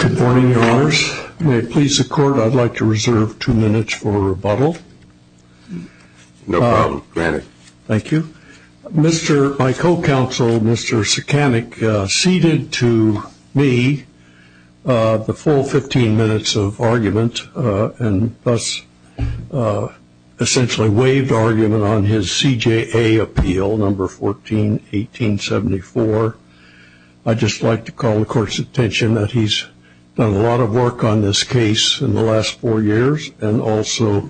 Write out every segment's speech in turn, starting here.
Good morning, your honors. May it please the court, I'd like to reserve two minutes for a rebuttal. No problem, granted. Thank you. My co-counsel, Mr. Sekanic, ceded to me the full 15 minutes of argument, and thus essentially waived argument on his CJA appeal, number 14-1874. I'd just like to call the court's attention that he's done a lot of work on this case in the last four years, and also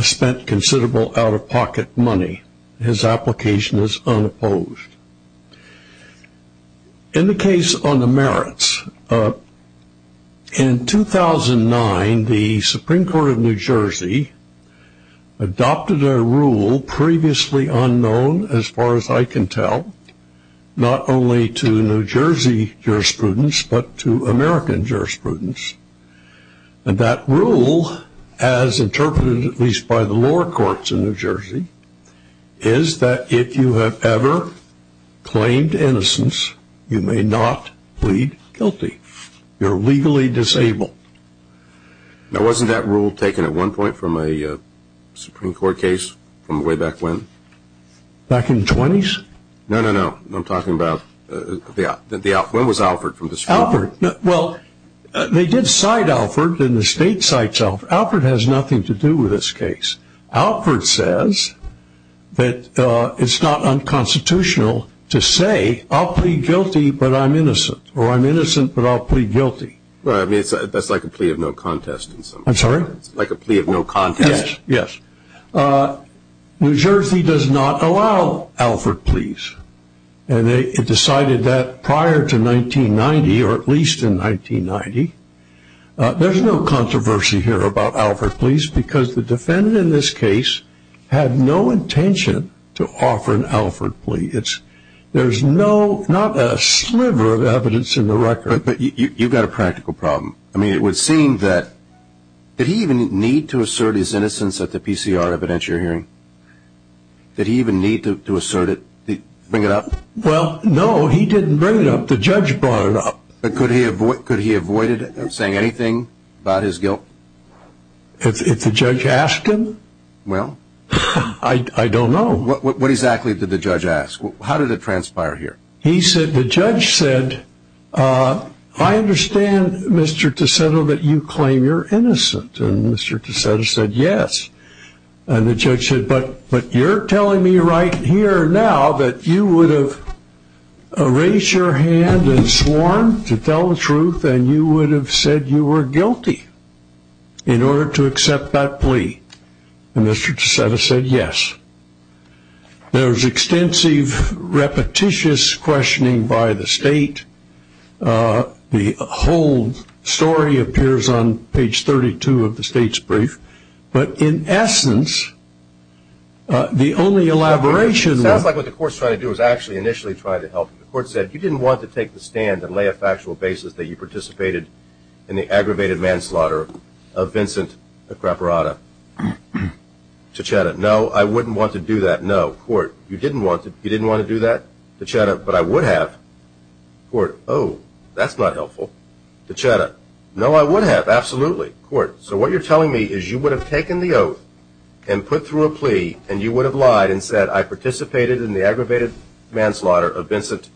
spent considerable out-of-pocket money. His application is unopposed. In the case on the merits, in 2009, the Supreme Court of New Jersey adopted a rule previously unknown, as far as I can tell, not only to New Jersey jurisprudence, but to American jurisprudence. And that rule, as interpreted at least by the lower courts in New Jersey, is that if you have ever claimed innocence, you may not plead guilty. You're legally disabled. Now, wasn't that rule taken at one point from a Supreme Court case from way back when? Back in the 20s? No, no, no. I'm talking about when was Alford from the Supreme Court? Well, they did cite Alford, and the state cites Alford. Alford has nothing to do with this case. Alford says that it's not unconstitutional to say, I'll plead guilty, but I'm innocent, or I'm innocent, but I'll plead guilty. Well, I mean, that's like a plea of no contest in some ways. I'm sorry? It's like a plea of no contest. Yes, yes. New Jersey does not allow Alford pleas, and it decided that prior to 1990, or at least in 1990. There's no controversy here about Alford pleas, because the defendant in this case had no intention to offer an Alford plea. There's not a sliver of evidence in the record. But you've got a practical problem. I mean, it would seem that, did he even need to assert his innocence at the PCR evidentiary hearing? Did he even need to assert it, bring it up? Well, no, he didn't bring it up. The judge brought it up. Could he have avoided saying anything about his guilt? If the judge asked him? Well? I don't know. What exactly did the judge ask? How did it transpire here? He said, the judge said, I understand, Mr. Ticetto, that you claim you're innocent. And Mr. Ticetto said, yes. And the judge said, but you're telling me right here now that you would have raised your hand and sworn to tell the truth, and you would have said you were guilty in order to accept that plea. And Mr. Ticetto said, yes. There was extensive, repetitious questioning by the state. The whole story appears on page 32 of the state's brief. But in essence, the only elaboration was the court said you didn't want to take the stand and lay a factual basis that you participated in the aggravated manslaughter of Vincent Capraparata Ticetto. No, I wouldn't want to do that. No, court, you didn't want to do that, Ticetto, but I would have. Court, oh, that's not helpful. Ticetto, no, I would have, absolutely. Court, so what you're telling me is you would have taken the oath and put through a plea, and you would have lied and said I participated in the aggravated manslaughter of Vincent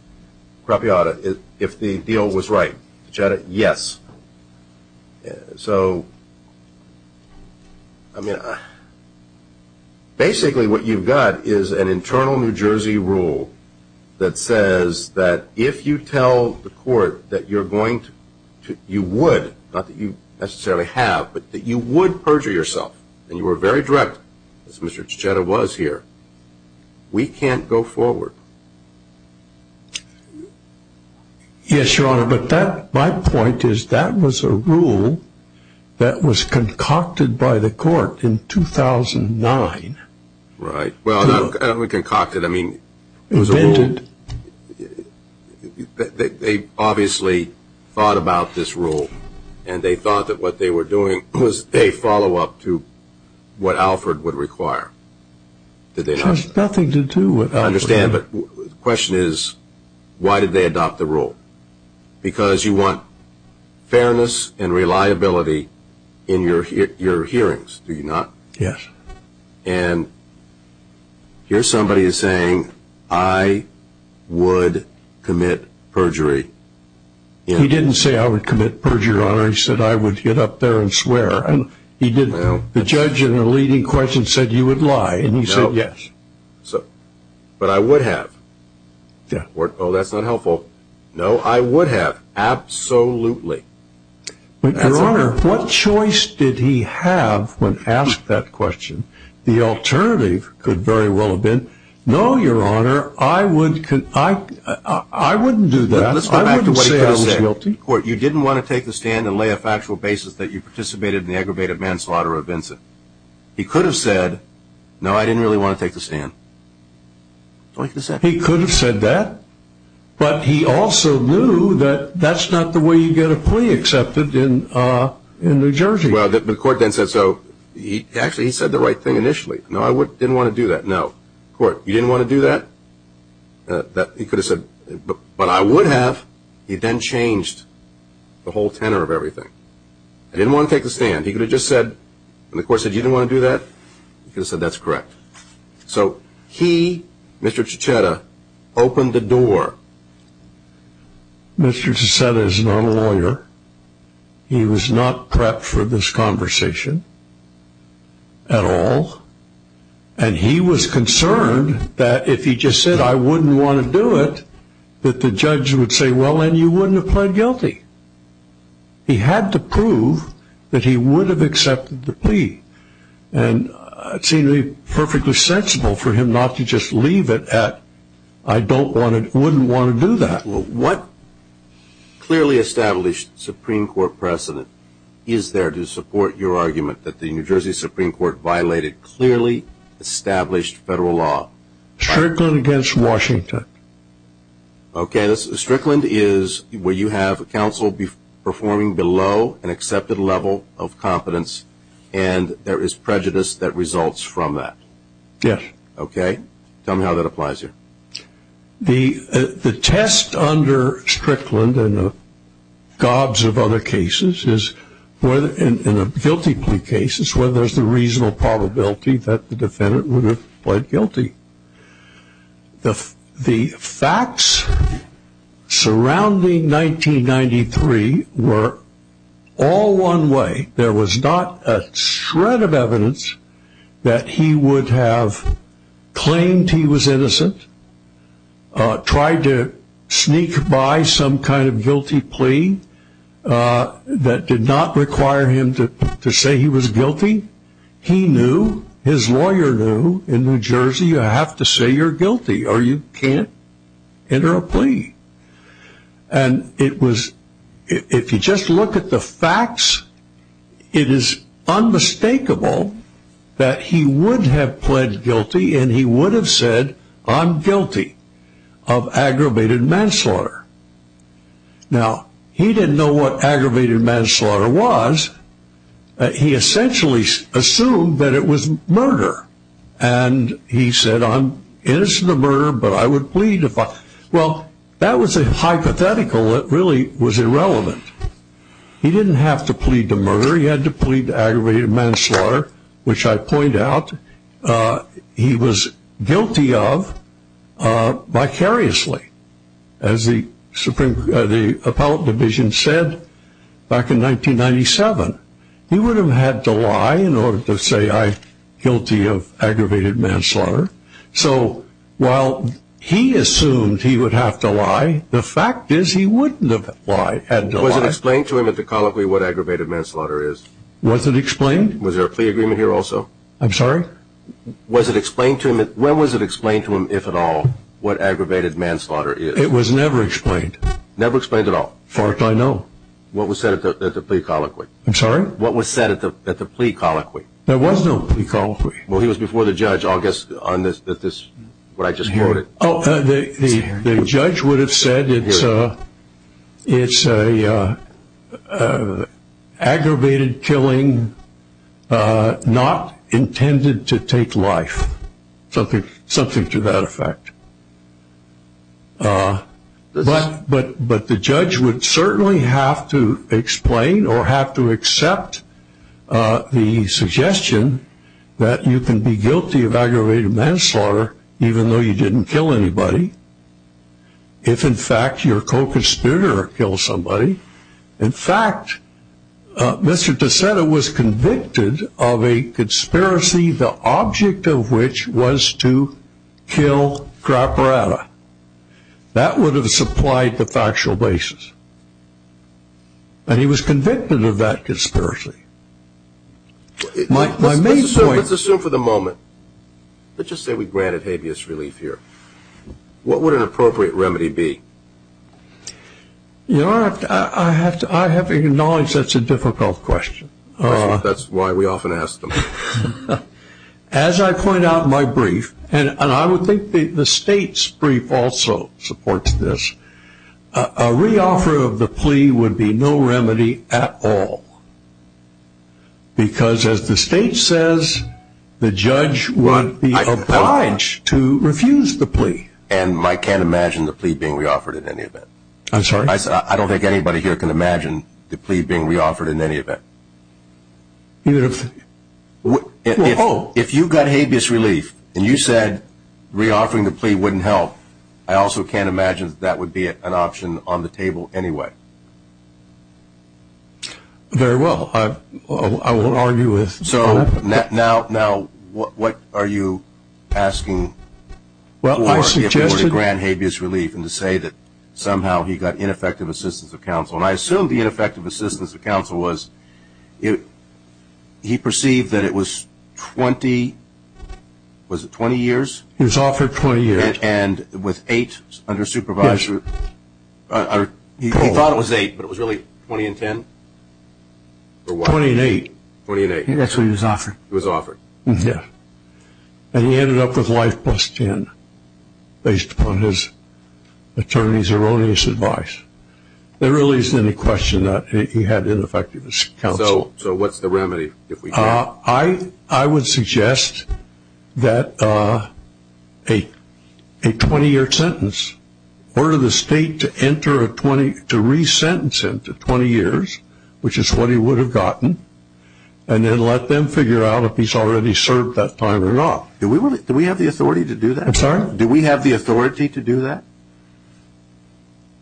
Capraparata if the deal was right. Ticetto, yes. So, I mean, basically what you've got is an internal New Jersey rule that says that if you tell the court that you're going to, you would, not that you necessarily have, but that you would perjure yourself and you were very direct, as Mr. Ticetto was here, we can't go forward. Yes, Your Honor, but that, my point is that was a rule that was concocted by the court in 2009. Right. Well, not concocted, I mean. It was invented. They obviously thought about this rule, and they thought that what they were doing was a follow-up to what Alford would require. Did they not? It has nothing to do with Alford. I understand, but the question is why did they adopt the rule? Because you want fairness and reliability in your hearings, do you not? Yes. And here somebody is saying I would commit perjury. He didn't say I would commit perjury, Your Honor. He said I would get up there and swear, and he didn't. The judge in the leading question said you would lie, and he said yes. But I would have. Oh, that's not helpful. No, I would have, absolutely. But, Your Honor, what choice did he have when asked that question? The alternative could very well have been no, Your Honor, I wouldn't do that. Let's go back to what he could have said. You didn't want to take the stand and lay a factual basis that you participated in the aggravated manslaughter of Vincent. He could have said, no, I didn't really want to take the stand. He could have said that, but he also knew that that's not the way you get a plea accepted in New Jersey. Well, the court then said so. Actually, he said the right thing initially. No, I didn't want to do that. No. Court, you didn't want to do that? He could have said, but I would have. He then changed the whole tenor of everything. He didn't want to take the stand. He could have just said, and the court said you didn't want to do that, he could have said that's correct. So he, Mr. Cicetta, opened the door. Mr. Cicetta is not a lawyer. He was not prepped for this conversation at all. And he was concerned that if he just said I wouldn't want to do it, that the judge would say, well, then you wouldn't have pled guilty. He had to prove that he would have accepted the plea. And it seemed perfectly sensible for him not to just leave it at I don't want to, wouldn't want to do that. What clearly established Supreme Court precedent is there to support your argument that the New Jersey Supreme Court violated clearly established federal law? Strickland against Washington. Okay. Strickland is where you have counsel performing below an accepted level of competence, and there is prejudice that results from that. Yes. Okay. Tell me how that applies here. The test under Strickland and the gobs of other cases is whether, in a guilty plea case, it's whether there's the reasonable probability that the defendant would have pled guilty. The facts surrounding 1993 were all one way. There was not a shred of evidence that he would have claimed he was innocent, tried to sneak by some kind of guilty plea that did not require him to say he was guilty. He knew, his lawyer knew, in New Jersey you have to say you're guilty or you can't enter a plea. And it was, if you just look at the facts, it is unmistakable that he would have pled guilty and he would have said I'm guilty of aggravated manslaughter. Now, he didn't know what aggravated manslaughter was. He essentially assumed that it was murder, and he said I'm innocent of murder, but I would plead. Well, that was a hypothetical that really was irrelevant. He didn't have to plead to murder. He had to plead to aggravated manslaughter, which I point out he was guilty of vicariously, as the Appellate Division said back in 1997. He would have had to lie in order to say I'm guilty of aggravated manslaughter. So while he assumed he would have to lie, the fact is he wouldn't have had to lie. Was it explained to him at the colloquy what aggravated manslaughter is? Was it explained? Was there a plea agreement here also? I'm sorry? When was it explained to him, if at all, what aggravated manslaughter is? It was never explained. Never explained at all? Far as I know. What was said at the plea colloquy? I'm sorry? What was said at the plea colloquy? There was no plea colloquy. Well, he was before the judge, I'll guess on this, what I just quoted. The judge would have said it's an aggravated killing not intended to take life, something to that effect. But the judge would certainly have to explain or have to accept the suggestion that you can be guilty of aggravated manslaughter even though you didn't kill anybody if, in fact, your co-conspirator killed somebody. In fact, Mr. Tassetta was convicted of a conspiracy, the object of which was to kill Trapparata. That would have supplied the factual basis. And he was convicted of that conspiracy. Let's assume for the moment, let's just say we granted habeas relief here, what would an appropriate remedy be? You know, I have to acknowledge that's a difficult question. That's why we often ask them. As I point out in my brief, and I would think the State's brief also supports this, a reoffer of the plea would be no remedy at all. Because as the State says, the judge would be obliged to refuse the plea. And I can't imagine the plea being reoffered in any event. I'm sorry? I don't think anybody here can imagine the plea being reoffered in any event. If you got habeas relief and you said reoffering the plea wouldn't help, I also can't imagine that that would be an option on the table anyway. Very well. I won't argue with that. So now what are you asking for to grant habeas relief and to say that somehow he got ineffective assistance of counsel? And I assume the ineffective assistance of counsel was he perceived that it was 20 years? It was offered 20 years. And with eight under supervision? Yes. He thought it was eight, but it was really 20 and 10? 20 and eight. 20 and eight. That's what he was offered. He was offered. Yes. And he ended up with life plus 10 based upon his attorney's erroneous advice. There really isn't any question that he had ineffective counsel. So what's the remedy if we can't? I would suggest that a 20-year sentence, order the state to re-sentence him to 20 years, which is what he would have gotten, and then let them figure out if he's already served that time or not. Do we have the authority to do that? I'm sorry? Do we have the authority to do that?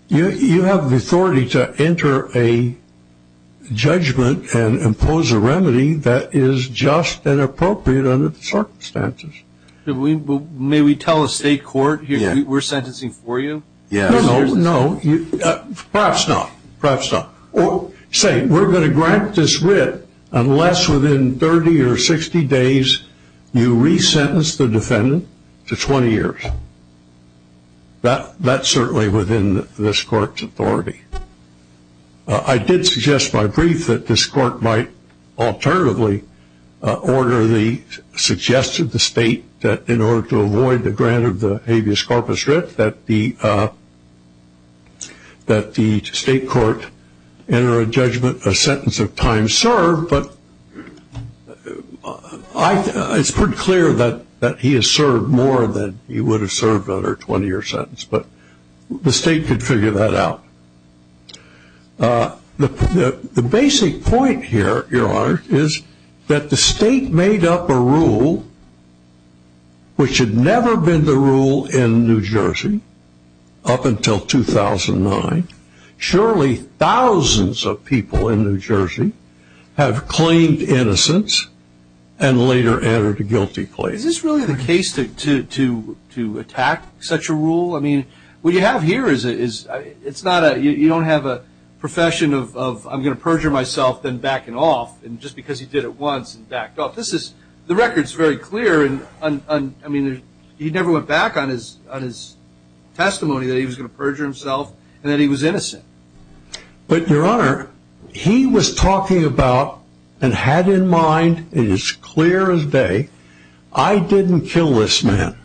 You have the authority to enter a judgment and impose a remedy that is just and appropriate under the circumstances. May we tell the state court we're sentencing for you? No, perhaps not. Perhaps not. Say we're going to grant this writ unless within 30 or 60 days you re-sentence the defendant to 20 years. That's certainly within this court's authority. I did suggest by brief that this court might alternatively order the, suggest to the state that in order to avoid the grant of the habeas corpus writ, that the state court enter a judgment, a sentence of time served, but it's pretty clear that he has served more than he would have served under a 20-year sentence, but the state could figure that out. The basic point here, Your Honor, is that the state made up a rule which had never been the rule in New Jersey up until 2009. Surely thousands of people in New Jersey have claimed innocence and later entered a guilty place. Is this really the case to attack such a rule? I mean, what you have here is it's not a, you don't have a profession of I'm going to perjure myself, then back it off. And just because he did it once and backed off, this is, the record's very clear. I mean, he never went back on his testimony that he was going to perjure himself and that he was innocent. But, Your Honor, he was talking about and had in mind, and it's clear as day, I didn't kill this man,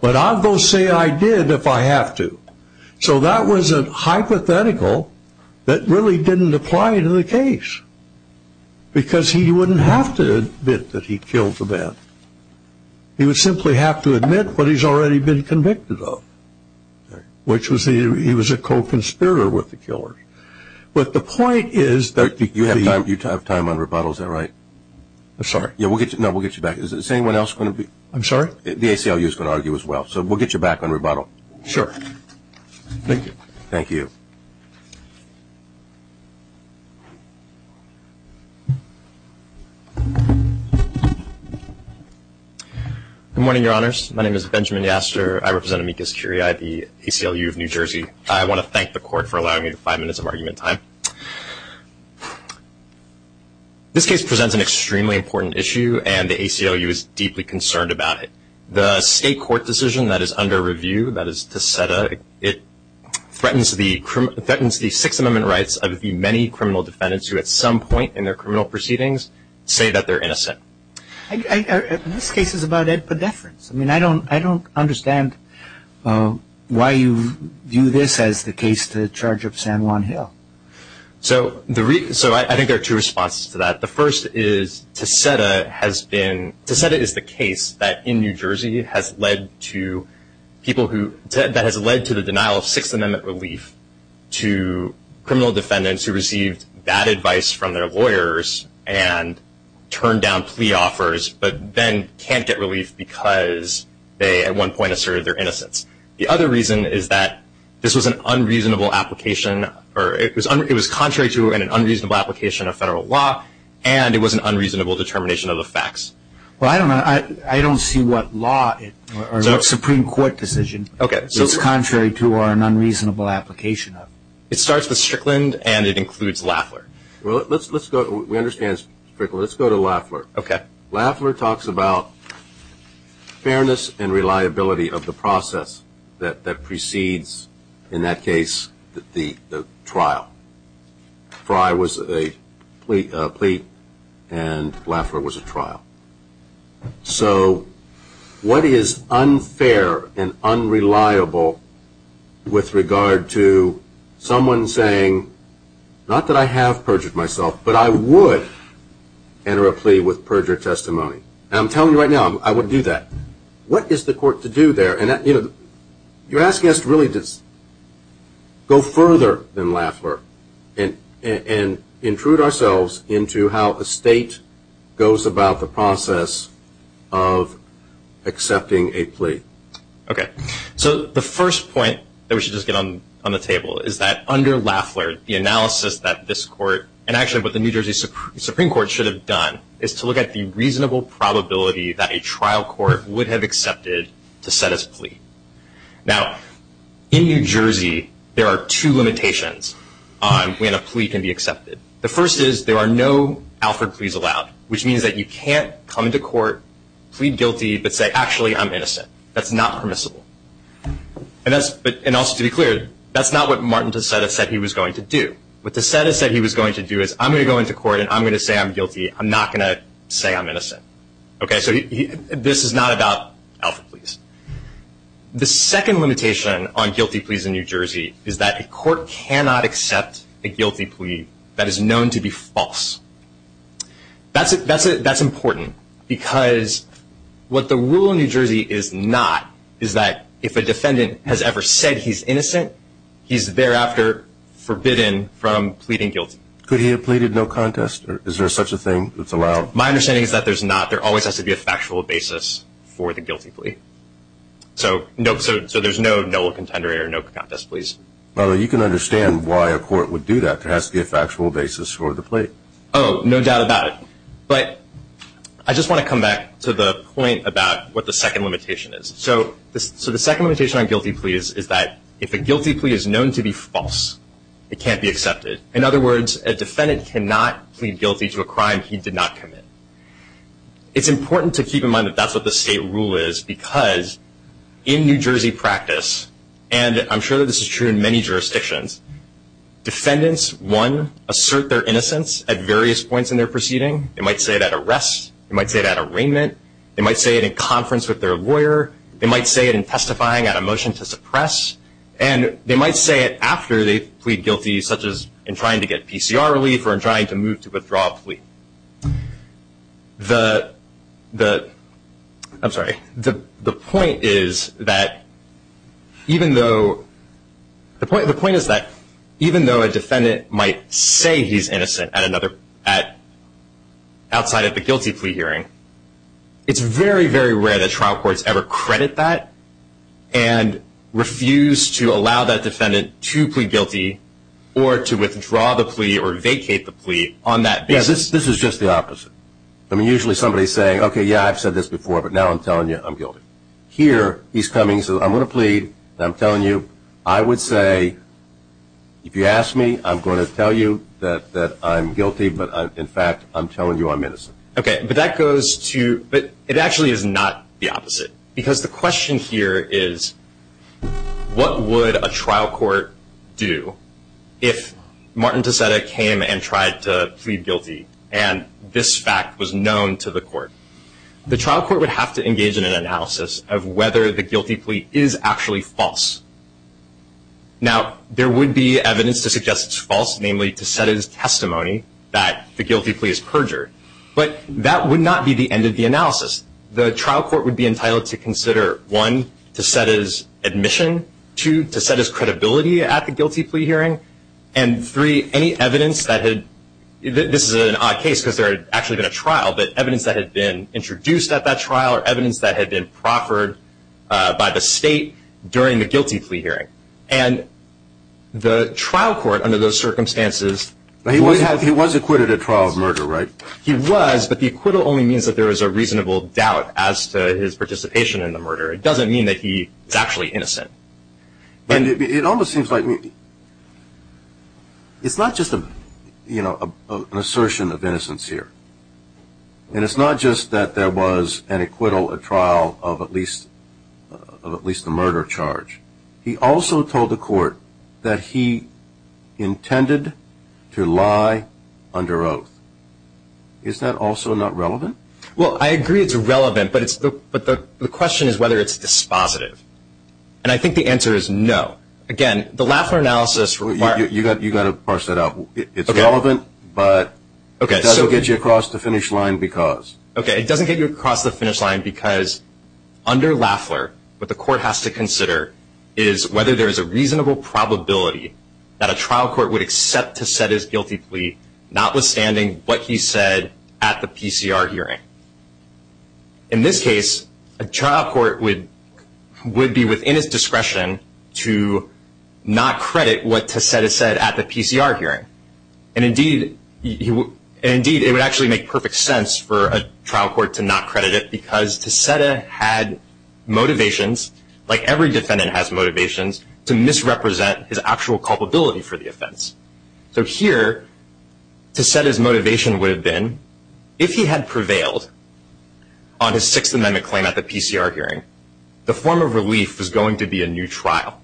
but I'll go say I did if I have to. So that was a hypothetical that really didn't apply to the case because he wouldn't have to admit that he killed the man. He would simply have to admit what he's already been convicted of, which was he was a co-conspirator with the killer. But the point is that you have time on rebuttal. Is that right? I'm sorry. No, we'll get you back. Is anyone else going to be? I'm sorry? The ACLU is going to argue as well. So we'll get you back on rebuttal. Sure. Thank you. Thank you. Good morning, Your Honors. My name is Benjamin Yaster. I represent Amicus Curia at the ACLU of New Jersey. I want to thank the Court for allowing me five minutes of argument time. This case presents an extremely important issue, and the ACLU is deeply concerned about it. The state court decision that is under review, that is Ticetta, it threatens the Sixth Amendment rights of the many criminal defendants who at some point in their criminal proceedings say that they're innocent. This case is about Ed Pedefrans. I mean, I don't understand why you view this as the case to the charge of San Juan Hill. So I think there are two responses to that. The first is Ticetta has been – Ticetta is the case that in New Jersey has led to people who – that has led to the denial of Sixth Amendment relief to criminal defendants who received bad advice from their lawyers and turned down plea offers, but then can't get relief because they at one point asserted their innocence. The other reason is that this was an unreasonable application, or it was contrary to an unreasonable application of federal law, and it was an unreasonable determination of the facts. Well, I don't know. I don't see what law or what Supreme Court decision is contrary to or an unreasonable application of. It starts with Strickland, and it includes Lafleur. Well, let's go – we understand Strickland. Let's go to Lafleur. Okay. Lafleur talks about fairness and reliability of the process that precedes, in that case, the trial. Fry was a plea, and Lafleur was a trial. So what is unfair and unreliable with regard to someone saying, not that I have perjured myself, but I would enter a plea with perjured testimony? And I'm telling you right now, I would do that. What is the court to do there? And, you know, you're asking us to really just go further than Lafleur and intrude ourselves into how a state goes about the process of accepting a plea. Okay. So the first point that we should just get on the table is that under Lafleur, the analysis that this court, and actually what the New Jersey Supreme Court should have done, is to look at the reasonable probability that a trial court would have accepted to set its plea. Now, in New Jersey, there are two limitations on when a plea can be accepted. The first is there are no Alfred pleas allowed, which means that you can't come to court, plead guilty, but say, actually, I'm innocent. That's not permissible. And also to be clear, that's not what Martin DeSantis said he was going to do. What DeSantis said he was going to do is, I'm going to go into court and I'm going to say I'm guilty. I'm not going to say I'm innocent. Okay, so this is not about Alfred pleas. The second limitation on guilty pleas in New Jersey is that a court cannot accept a guilty plea that is known to be false. That's important because what the rule in New Jersey is not is that if a defendant has ever said he's innocent, he's thereafter forbidden from pleading guilty. Could he have pleaded no contest? Is there such a thing that's allowed? My understanding is that there's not. There always has to be a factual basis for the guilty plea. So there's no contender or no contest pleas. Well, you can understand why a court would do that. There has to be a factual basis for the plea. Oh, no doubt about it. But I just want to come back to the point about what the second limitation is. So the second limitation on guilty pleas is that if a guilty plea is known to be false, it can't be accepted. In other words, a defendant cannot plead guilty to a crime he did not commit. It's important to keep in mind that that's what the state rule is because in New Jersey practice, and I'm sure this is true in many jurisdictions, defendants, one, assert their innocence at various points in their proceeding. They might say it at arrest. They might say it at arraignment. They might say it in conference with their lawyer. They might say it in testifying at a motion to suppress. And they might say it after they plead guilty, such as in trying to get PCR relief or in trying to move to withdraw a plea. The point is that even though a defendant might say he's innocent outside of the guilty plea hearing, it's very, very rare that trial courts ever credit that and refuse to allow that defendant to plead guilty or to withdraw the plea or vacate the plea on that basis. This is just the opposite. I mean, usually somebody's saying, okay, yeah, I've said this before, but now I'm telling you I'm guilty. Here, he's coming, says, I'm going to plead, and I'm telling you. I would say, if you ask me, I'm going to tell you that I'm guilty, but, in fact, I'm telling you I'm innocent. Okay, but that goes to – but it actually is not the opposite because the question here is, what would a trial court do if Martin Ticetta came and tried to plead guilty, and this fact was known to the court? The trial court would have to engage in an analysis of whether the guilty plea is actually false. Now, there would be evidence to suggest it's false, namely, to set as testimony that the guilty plea is perjured, but that would not be the end of the analysis. The trial court would be entitled to consider, one, to set as admission, two, to set as credibility at the guilty plea hearing, and three, any evidence that had – this is an odd case because there had actually been a trial, but evidence that had been introduced at that trial or evidence that had been proffered by the state during the guilty plea hearing. And the trial court, under those circumstances – He was acquitted at trial of murder, right? He was, but the acquittal only means that there is a reasonable doubt as to his participation in the murder. It doesn't mean that he is actually innocent. It almost seems like – it's not just an assertion of innocence here, and it's not just that there was an acquittal at trial of at least a murder charge. He also told the court that he intended to lie under oath. Is that also not relevant? Well, I agree it's relevant, but the question is whether it's dispositive. And I think the answer is no. Again, the Lafler analysis – You've got to parse that out. It's relevant, but it doesn't get you across the finish line because – is whether there is a reasonable probability that a trial court would accept Ticetta's guilty plea, notwithstanding what he said at the PCR hearing. In this case, a trial court would be within its discretion to not credit what Ticetta said at the PCR hearing. And indeed, it would actually make perfect sense for a trial court to not credit it because Ticetta had motivations, like every defendant has motivations, to misrepresent his actual culpability for the offense. So here, Ticetta's motivation would have been, if he had prevailed on his Sixth Amendment claim at the PCR hearing, the form of relief was going to be a new trial.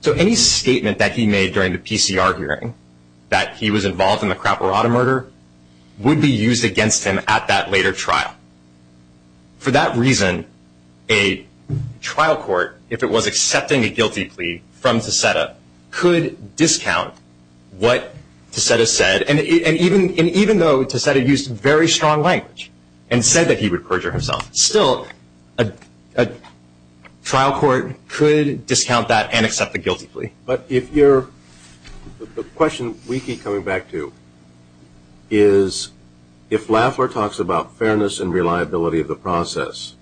So any statement that he made during the PCR hearing, that he was involved in the Craparata murder, would be used against him at that later trial. For that reason, a trial court, if it was accepting a guilty plea from Ticetta, could discount what Ticetta said. And even though Ticetta used very strong language and said that he would perjure himself, still, a trial court could discount that and accept the guilty plea. But the question we keep coming back to is, if Lafleur talks about fairness and reliability of the process,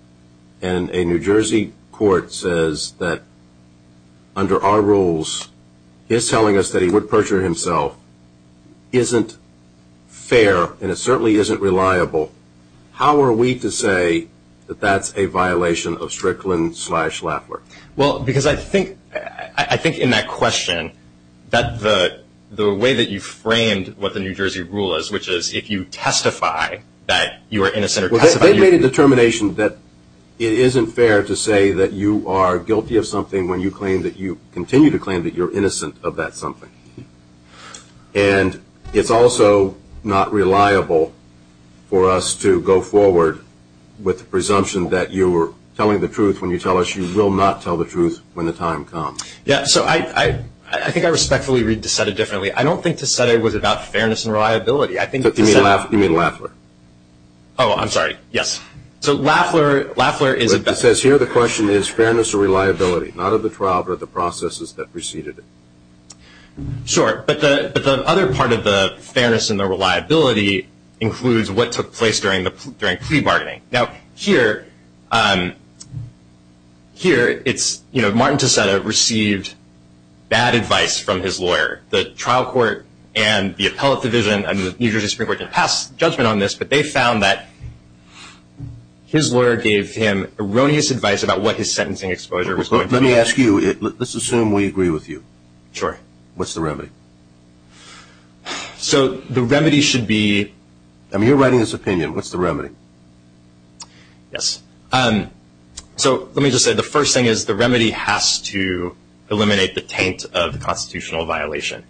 and a New Jersey court says that, under our rules, he is telling us that he would perjure himself, isn't fair, and it certainly isn't reliable, how are we to say that that's a violation of Strickland-slash-Lafleur? Well, because I think in that question, the way that you framed what the New Jersey rule is, which is if you testify that you are innocent or testify that you're guilty. They made a determination that it isn't fair to say that you are guilty of something when you continue to claim that you're innocent of that something. And it's also not reliable for us to go forward with the presumption that you are telling the truth when you tell us you will not tell the truth when the time comes. Yeah, so I think I respectfully read Ticetta differently. I don't think Ticetta was about fairness and reliability. You mean Lafleur? Oh, I'm sorry, yes. So Lafleur is about fairness and reliability, not of the trial, but of the processes that preceded it. Sure, but the other part of the fairness and the reliability includes what took place during plea bargaining. Now, here, Martin Ticetta received bad advice from his lawyer. The trial court and the appellate division and the New Jersey Supreme Court didn't pass judgment on this, but they found that his lawyer gave him erroneous advice about what his sentencing exposure was going to be. Let me ask you, let's assume we agree with you. Sure. What's the remedy? So the remedy should be... You're writing this opinion. What's the remedy? Yes. So let me just say the first thing is the remedy has to eliminate the taint of the constitutional violation.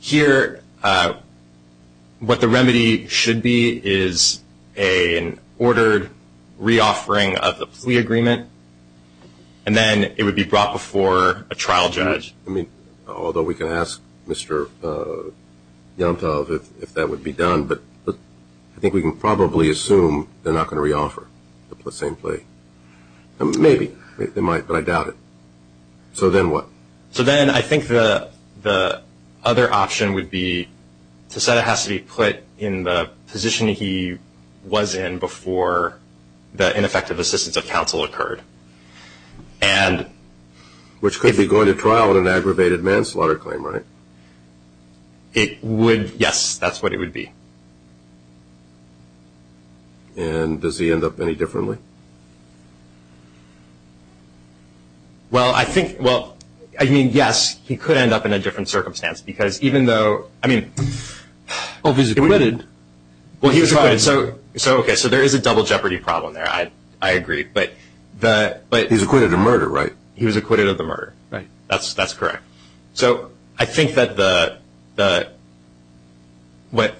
Here, what the remedy should be is an ordered reoffering of the plea agreement, and then it would be brought before a trial judge. I mean, although we can ask Mr. Yomtov if that would be done, but I think we can probably assume they're not going to reoffer the same plea. Maybe. They might, but I doubt it. So then what? So then I think the other option would be Ticetta has to be put in the position he was in before the ineffective assistance of counsel occurred. And... Which could be going to trial in an aggravated manslaughter claim, right? It would, yes, that's what it would be. And does he end up any differently? Well, I think... Well, I mean, yes, he could end up in a different circumstance because even though... I mean... Well, he was acquitted. Well, he was acquitted. So, okay, so there is a double jeopardy problem there. I agree, but... He was acquitted of murder, right? He was acquitted of the murder. Right. That's correct. So I think that what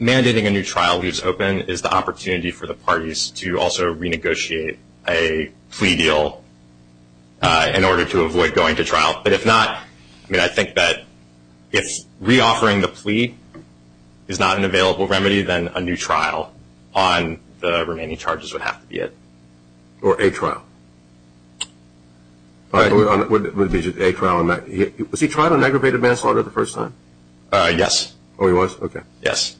mandating a new trial leaves open is the opportunity for the parties to also renegotiate a plea deal in order to avoid going to trial. But if not, I mean, I think that if reoffering the plea is not an available remedy, then a new trial on the remaining charges would have to be it. Or a trial. Would it be a trial on... Was he tried on aggravated manslaughter the first time? Yes. Oh, he was? Okay. Yes.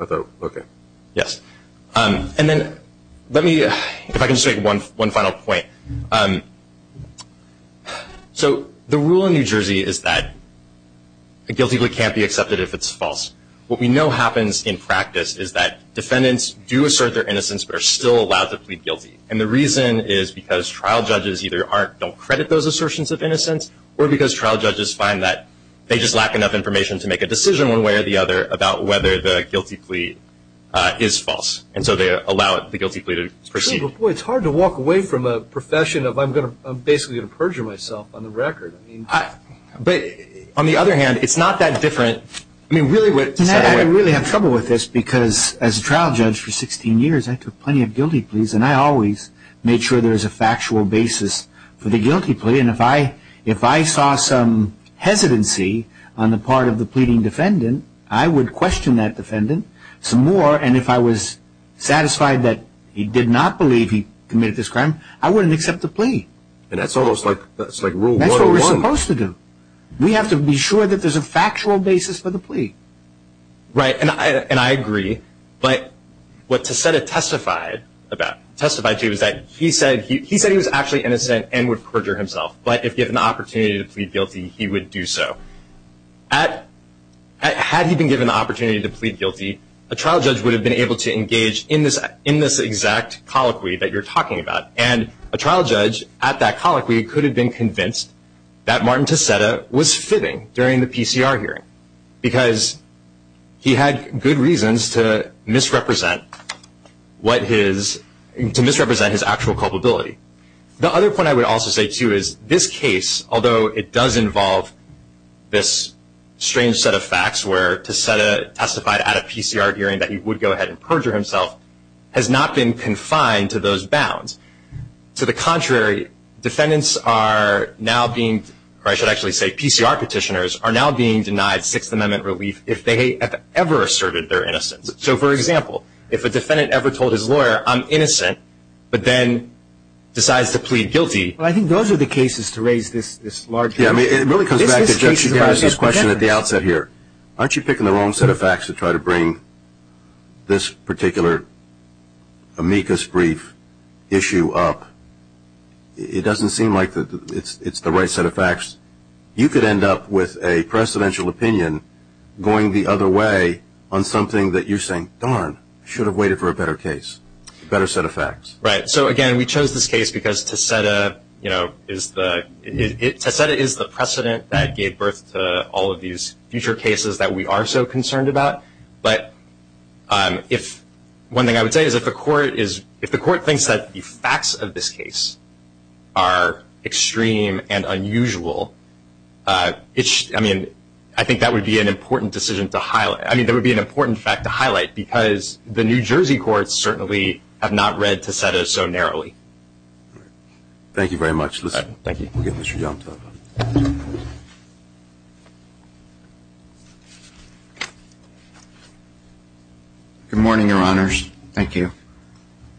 Okay. Yes. And then let me... If I can just make one final point. So the rule in New Jersey is that a guilty plea can't be accepted if it's false. What we know happens in practice is that defendants do assert their innocence but are still allowed to plead guilty. And the reason is because trial judges either don't credit those assertions of innocence or because trial judges find that they just lack enough information to make a decision one way or the other about whether the guilty plea is false. And so they allow the guilty plea to proceed. It's hard to walk away from a profession of I'm basically going to perjure myself on the record. But on the other hand, it's not that different. I really have trouble with this because as a trial judge for 16 years, I took plenty of guilty pleas, and I always made sure there was a factual basis for the guilty plea. And if I saw some hesitancy on the part of the pleading defendant, I would question that defendant some more. And if I was satisfied that he did not believe he committed this crime, I wouldn't accept the plea. And that's almost like rule 101. That's what we're supposed to do. We have to be sure that there's a factual basis for the plea. Right, and I agree. But what Tessetta testified to is that he said he was actually innocent and would perjure himself, but if given the opportunity to plead guilty, he would do so. Had he been given the opportunity to plead guilty, a trial judge would have been able to engage in this exact colloquy that you're talking about. And a trial judge at that colloquy could have been convinced that Martin Tessetta was fibbing during the PCR hearing because he had good reasons to misrepresent his actual culpability. The other point I would also say, too, is this case, although it does involve this strange set of facts where Tessetta testified at a PCR hearing that he would go ahead and perjure himself, has not been confined to those bounds. To the contrary, defendants are now being, or I should actually say PCR petitioners, are now being denied Sixth Amendment relief if they have ever asserted their innocence. So, for example, if a defendant ever told his lawyer, I'm innocent, but then decides to plead guilty. Well, I think those are the cases to raise this larger issue. Yeah, I mean, it really comes back to Judge Garris' question at the outset here. Aren't you picking the wrong set of facts to try to bring this particular amicus brief issue up? It doesn't seem like it's the right set of facts. You could end up with a precedential opinion going the other way on something that you're saying, darn, I should have waited for a better case, a better set of facts. Right. So, again, we chose this case because Tessetta is the precedent that gave birth to all of these future cases that we are so concerned about. But one thing I would say is if the court thinks that the facts of this case are extreme and unusual, I mean, I think that would be an important fact to highlight because the New Jersey courts certainly have not read Tessetta so narrowly. Thank you very much. Thank you. We'll give this to Yomtov. Good morning, Your Honors. Thank you.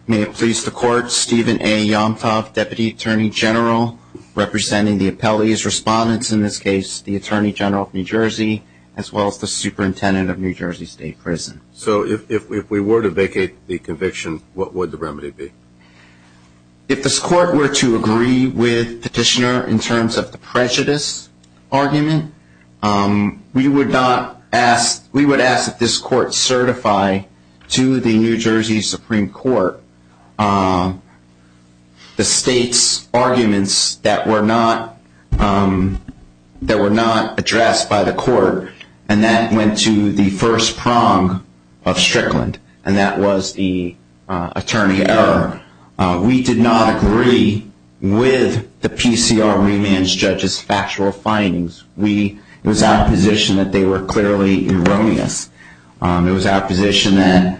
May it please the Court, Stephen A. Yomtov, Deputy Attorney General, representing the appellee's respondents in this case, the Attorney General of New Jersey, as well as the Superintendent of New Jersey State Prison. So if we were to vacate the conviction, what would the remedy be? If this court were to agree with Petitioner in terms of the prejudice argument, we would ask that this court certify to the New Jersey Supreme Court the state's arguments that were not addressed by the court, and that went to the first prong of Strickland, and that was the attorney error. We did not agree with the PCR remand judge's factual findings. It was our position that they were clearly erroneous. It was our position that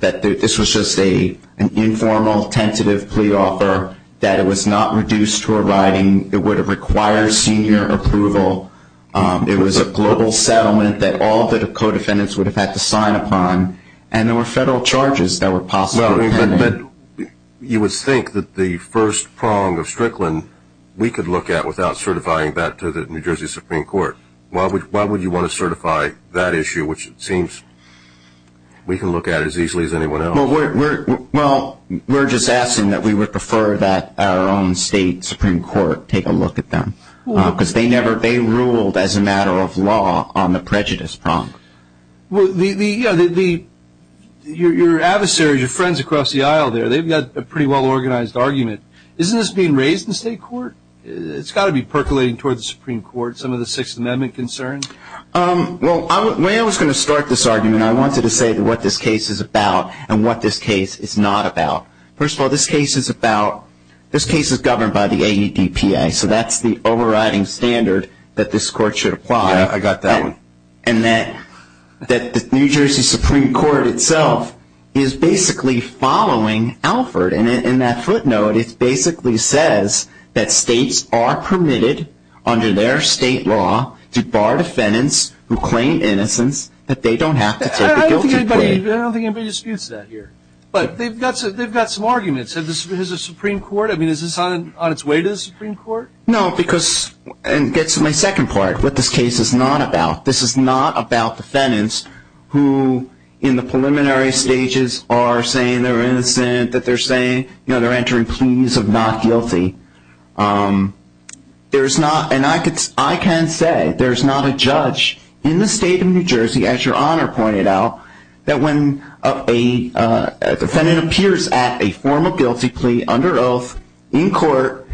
this was just an informal, tentative plea offer, that it was not reduced to a writing. It would have required senior approval. It was a global settlement that all the co-defendants would have had to sign upon, and there were federal charges that were possibly pending. But you would think that the first prong of Strickland, we could look at without certifying that to the New Jersey Supreme Court. Why would you want to certify that issue, which it seems we can look at as easily as anyone else? Well, we're just asking that we would prefer that our own state Supreme Court take a look at them, because they ruled as a matter of law on the prejudice prong. Well, your adversaries, your friends across the aisle there, they've got a pretty well organized argument. Isn't this being raised in state court? It's got to be percolating toward the Supreme Court, some of the Sixth Amendment concerns. Well, when I was going to start this argument, I wanted to say what this case is about and what this case is not about. First of all, this case is governed by the AEDPA, so that's the overriding standard that this court should apply. Yeah, I got that one. And that the New Jersey Supreme Court itself is basically following Alford, and in that footnote it basically says that states are permitted under their state law to bar defendants who claim innocence, that they don't have to take the guilty plea. I don't think anybody disputes that here. But they've got some arguments. Is this on its way to the Supreme Court? No, because it gets to my second part, what this case is not about. This is not about defendants who in the preliminary stages are saying they're innocent, that they're entering pleas of not guilty. And I can say there's not a judge in the state of New Jersey, as Your Honor pointed out, that when a defendant appears at a formal guilty plea under oath in court,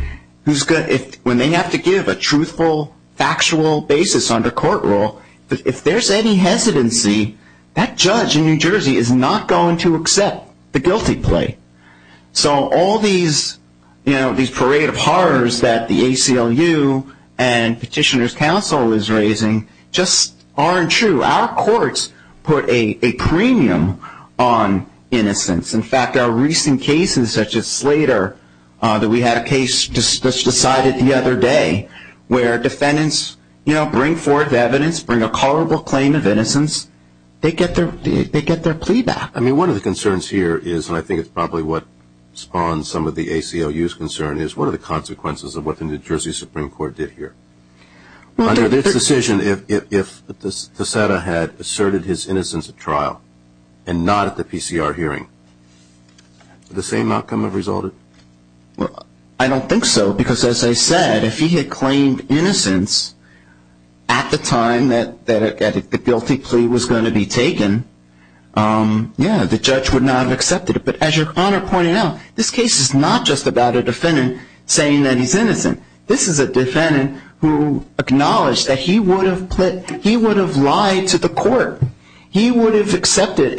when they have to give a truthful, factual basis under court rule, if there's any hesitancy, that judge in New Jersey is not going to accept the guilty plea. So all these parade of horrors that the ACLU and Petitioner's Council is raising just aren't true. Our courts put a premium on innocence. In fact, our recent cases, such as Slater, that we had a case decided the other day, where defendants bring forth evidence, bring a culpable claim of innocence, they get their plea back. I mean, one of the concerns here is, and I think it's probably what spawned some of the ACLU's concern, is what are the consequences of what the New Jersey Supreme Court did here? Under this decision, if DeSeta had asserted his innocence at trial and not at the PCR hearing, would the same outcome have resulted? I don't think so, because as I said, if he had claimed innocence at the time that the guilty plea was going to be taken, yeah, the judge would not have accepted it. But as your Honor pointed out, this case is not just about a defendant saying that he's innocent. This is a defendant who acknowledged that he would have lied to the court. He would have accepted,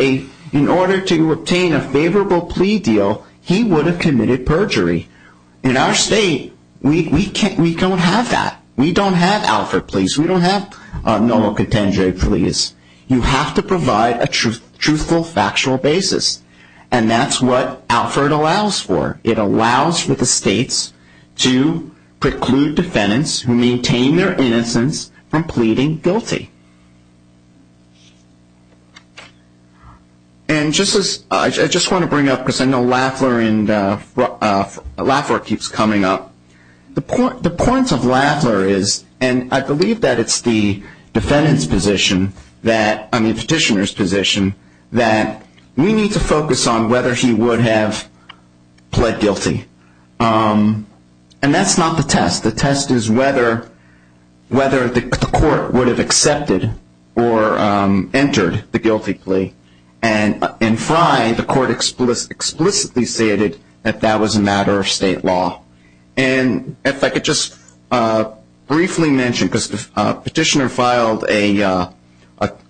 in order to obtain a favorable plea deal, he would have committed perjury. In our state, we don't have that. We don't have Alfred Pleas. We don't have Noah Cotendre Pleas. You have to provide a truthful, factual basis, and that's what Alfred allows for. It allows for the states to preclude defendants who maintain their innocence from pleading guilty. And just as I just want to bring up, because I know Lafler keeps coming up, the point of Lafler is, and I believe that it's the petitioner's position, that we need to focus on whether he would have pled guilty. And that's not the test. The test is whether the court would have accepted or entered the guilty plea. In Frye, the court explicitly stated that that was a matter of state law. And if I could just briefly mention, because the petitioner filed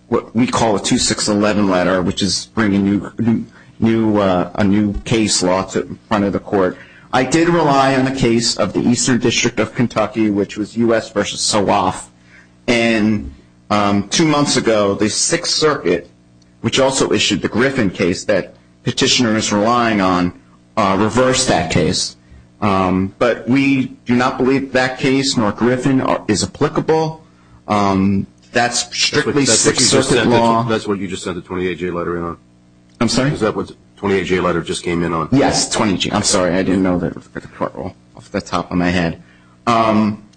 what we call a 2611 letter, which is bringing a new case law to the front of the court. I did rely on the case of the Eastern District of Kentucky, which was U.S. v. Suwoff. And two months ago, the Sixth Circuit, which also issued the Griffin case that petitioner is relying on, reversed that case. But we do not believe that case, nor Griffin, is applicable. That's strictly Sixth Circuit law. That's what you just sent the 28J letter in on? I'm sorry? Is that what the 28J letter just came in on? Yes, 28J. I'm sorry. I didn't know that off the top of my head.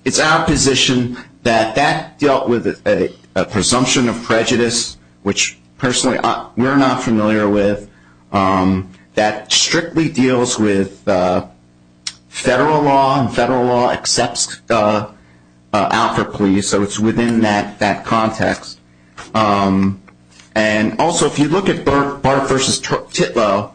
It's our position that that dealt with a presumption of prejudice, which personally we're not familiar with, that strictly deals with federal law, and federal law accepts alpha pleas, so it's within that context. And also, if you look at Barth v. Titlow,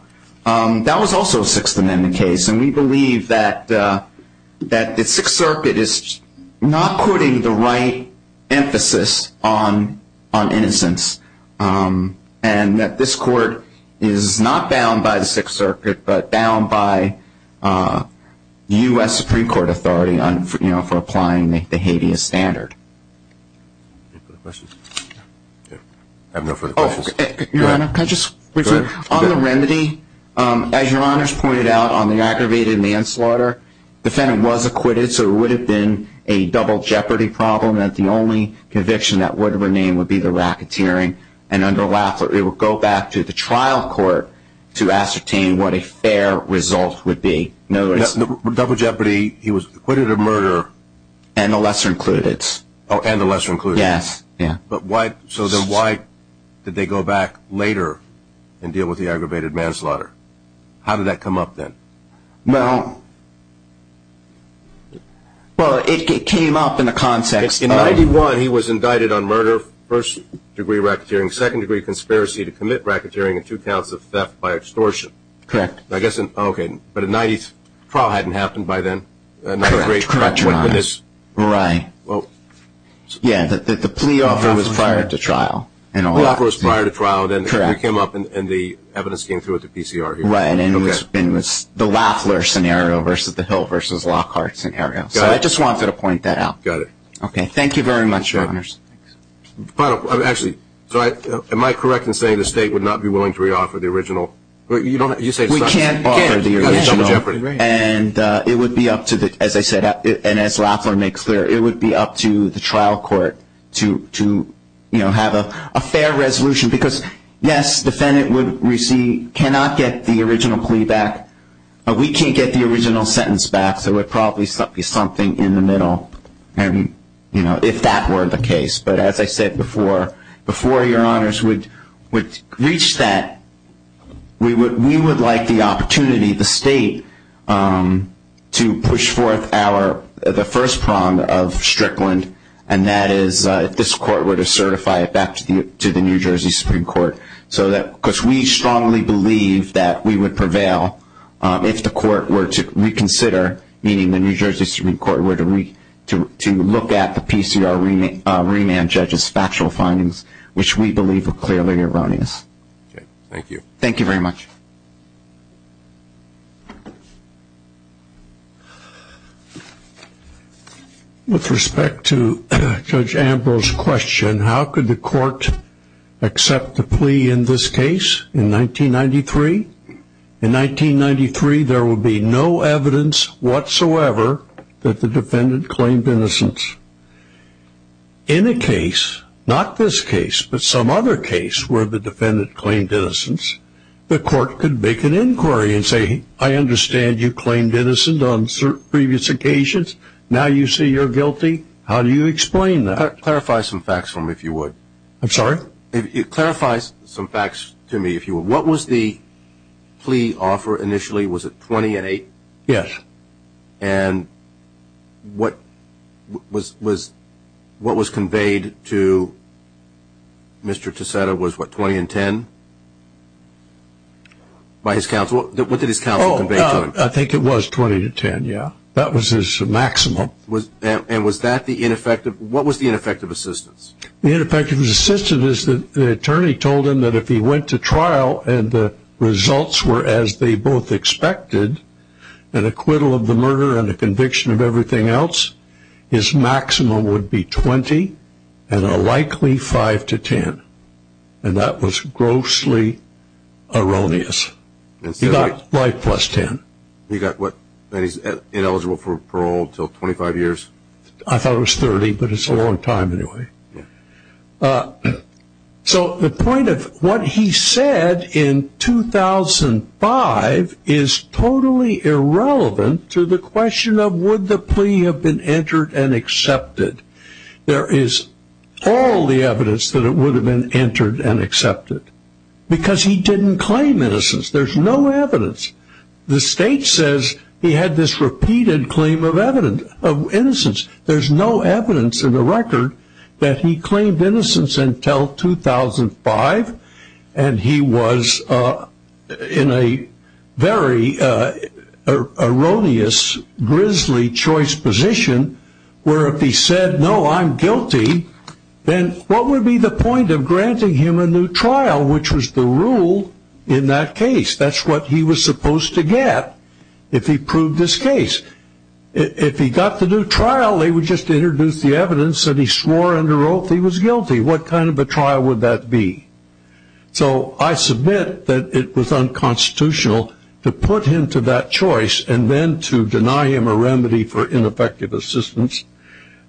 that was also a Sixth Amendment case, and we believe that the Sixth Circuit is not putting the right emphasis on innocence and that this court is not bound by the Sixth Circuit, but bound by U.S. Supreme Court authority for applying the habeas standard. Any further questions? I have no further questions. Your Honor, can I just refer to the remedy? As Your Honor has pointed out on the aggravated manslaughter, the defendant was acquitted, so it would have been a double jeopardy problem that the only conviction that would remain would be the racketeering, and under LAFLA it would go back to the trial court to ascertain what a fair result would be. Double jeopardy, he was acquitted of murder? And the lesser included. Oh, and the lesser included. Yes. So then why did they go back later and deal with the aggravated manslaughter? How did that come up then? Well, it came up in the context. In 91, he was indicted on murder, first degree racketeering, second degree conspiracy to commit racketeering, and two counts of theft by extortion. Correct. Okay, but a 90th trial hadn't happened by then? Correct, Your Honor. Right. Yeah, the plea offer was prior to trial. The offer was prior to trial, and it came up, and the evidence came through at the PCR. Right, and it was the LAFLA scenario versus the Hill versus Lockhart scenario. Got it. So I just wanted to point that out. Got it. Okay, thank you very much, Your Honor. Actually, am I correct in saying the State would not be willing to re-offer the original? You say it's not? We can't offer the original. And it would be up to the, as I said, and as LAFLA makes clear, it would be up to the trial court to, you know, have a fair resolution. Because, yes, the defendant would receive, cannot get the original plea back. We can't get the original sentence back, so it would probably be something in the middle, you know, if that were the case. But as I said before, before Your Honors would reach that, we would like the opportunity, the State, to push forth the first prong of Strickland, and that is if this court were to certify it back to the New Jersey Supreme Court. Because we strongly believe that we would prevail if the court were to reconsider, meaning the New Jersey Supreme Court were to look at the PCR remand judge's factual findings, which we believe are clearly erroneous. Thank you. Thank you very much. With respect to Judge Ambrose's question, how could the court accept the plea in this case in 1993? In 1993, there would be no evidence whatsoever that the defendant claimed innocence. In a case, not this case, but some other case where the defendant claimed innocence, the court could make an inquiry and say, I understand you claimed innocence on previous occasions. Now you say you're guilty. How do you explain that? Clarify some facts for me, if you would. I'm sorry? Clarify some facts to me, if you would. What was the plea offer initially? Was it 28? Yes. And what was conveyed to Mr. Ticetta was, what, 20 and 10? What did his counsel convey to him? I think it was 20 to 10, yes. That was his maximum. And what was the ineffective assistance? The ineffective assistance is that the attorney told him that if he went to trial and the results were as they both expected, an acquittal of the murder and a conviction of everything else, his maximum would be 20 and a likely 5 to 10. And that was grossly erroneous. He got 5 plus 10. And he's ineligible for parole until 25 years? I thought it was 30, but it's a long time anyway. So the point of what he said in 2005 is totally irrelevant to the question of, would the plea have been entered and accepted? There is all the evidence that it would have been entered and accepted, because he didn't claim innocence. There's no evidence. The state says he had this repeated claim of innocence. There's no evidence in the record that he claimed innocence until 2005, and he was in a very erroneous, grisly choice position where if he said, no, I'm guilty, then what would be the point of granting him a new trial, which was the rule in that case? That's what he was supposed to get if he proved his case. If he got the new trial, they would just introduce the evidence that he swore under oath he was guilty. What kind of a trial would that be? So I submit that it was unconstitutional to put him to that choice and then to deny him a remedy for ineffective assistance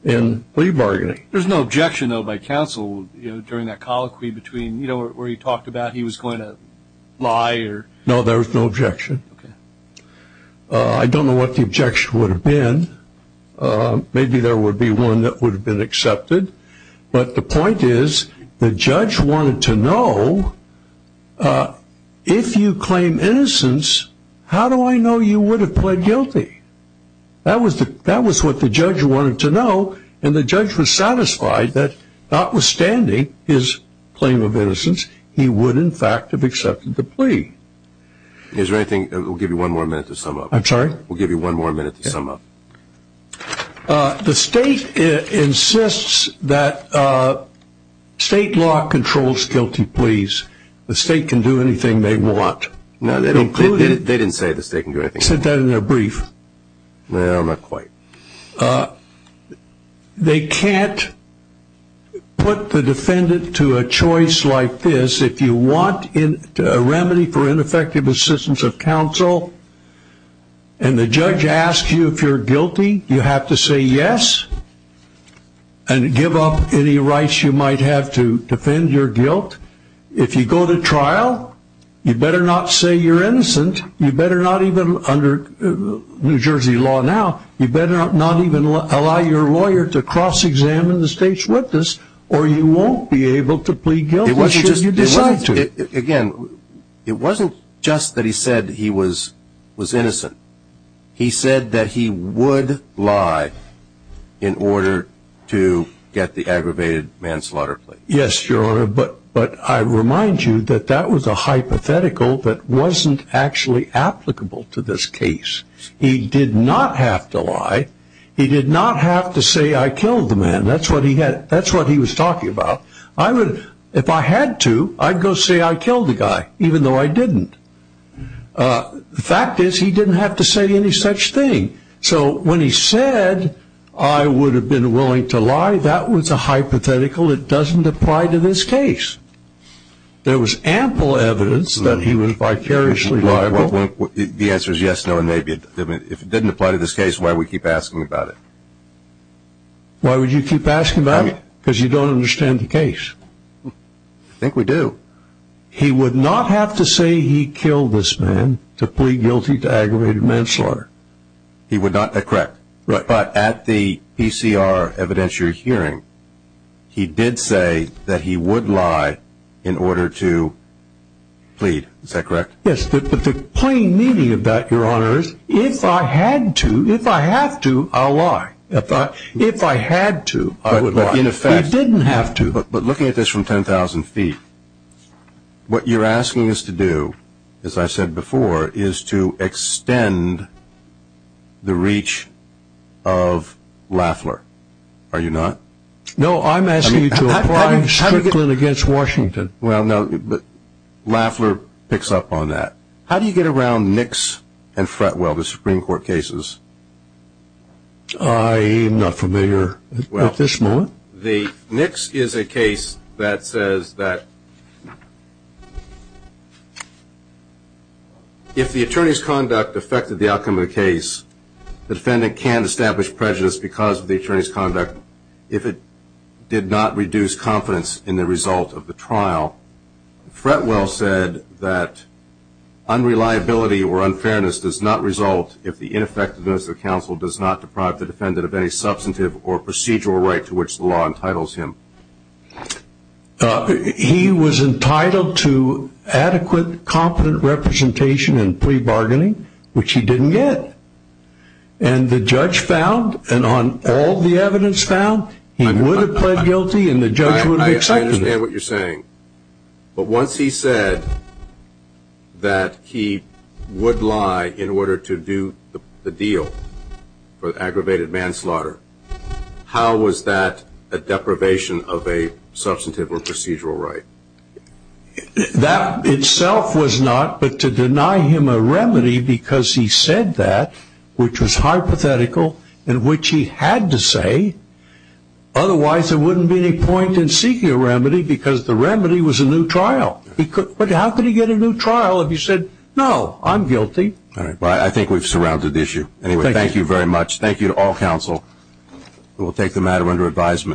in plea bargaining. There's no objection, though, by counsel during that colloquy between, you know, where he talked about he was going to lie? No, there was no objection. I don't know what the objection would have been. Maybe there would be one that would have been accepted, but the point is the judge wanted to know if you claim innocence, how do I know you would have pled guilty? That was what the judge wanted to know, and the judge was satisfied that notwithstanding his claim of innocence, he would, in fact, have accepted the plea. Is there anything? We'll give you one more minute to sum up. I'm sorry? We'll give you one more minute to sum up. The state insists that state law controls guilty pleas. The state can do anything they want. They didn't say the state can do anything. They said that in their brief. No, not quite. They can't put the defendant to a choice like this. If you want a remedy for ineffective assistance of counsel and the judge asks you if you're guilty, you have to say yes and give up any rights you might have to defend your guilt. If you go to trial, you better not say you're innocent. You better not even, under New Jersey law now, you better not even allow your lawyer to cross-examine the state's witness or you won't be able to plead guilty should you decide to. Again, it wasn't just that he said he was innocent. He said that he would lie in order to get the aggravated manslaughter plea. Yes, Your Honor, but I remind you that that was a hypothetical that wasn't actually applicable to this case. He did not have to lie. He did not have to say, I killed the man. That's what he was talking about. If I had to, I'd go say I killed the guy even though I didn't. The fact is he didn't have to say any such thing. So when he said I would have been willing to lie, that was a hypothetical. It doesn't apply to this case. There was ample evidence that he was vicariously liable. The answer is yes, no, and maybe. If it didn't apply to this case, why do we keep asking about it? Why would you keep asking about it? Because you don't understand the case. I think we do. He would not have to say he killed this man to plead guilty to aggravated manslaughter. He would not? That's correct. But at the PCR evidentiary hearing, he did say that he would lie in order to plead. Yes, but the plain meaning of that, Your Honor, is if I had to, if I have to, I'll lie. If I had to, I would lie. He didn't have to. But looking at this from 10,000 feet, what you're asking us to do, as I said before, is to extend the reach of Lafler, are you not? No, I'm asking you to apply strictly against Washington. Well, no, but Lafler picks up on that. How do you get around Nix and Fretwell, the Supreme Court cases? I am not familiar at this moment. Well, the Nix is a case that says that if the attorney's conduct affected the outcome of the case, the defendant can't establish prejudice because of the attorney's conduct if it did not reduce confidence in the result of the trial. Fretwell said that unreliability or unfairness does not result if the ineffectiveness of the counsel does not deprive the defendant of any substantive or procedural right to which the law entitles him. He was entitled to adequate, competent representation in plea bargaining, which he didn't get. And the judge found, and on all the evidence found, he would have pled guilty and the judge would have accepted it. I understand what you're saying. But once he said that he would lie in order to do the deal for aggravated manslaughter, how was that a deprivation of a substantive or procedural right? That itself was not, but to deny him a remedy because he said that, which was hypothetical, in which he had to say, otherwise there wouldn't be any point in seeking a remedy because the remedy was a new trial. But how could he get a new trial if he said, no, I'm guilty? I think we've surrounded the issue. Anyway, thank you very much. Thank you to all counsel. We'll take the matter under advisement.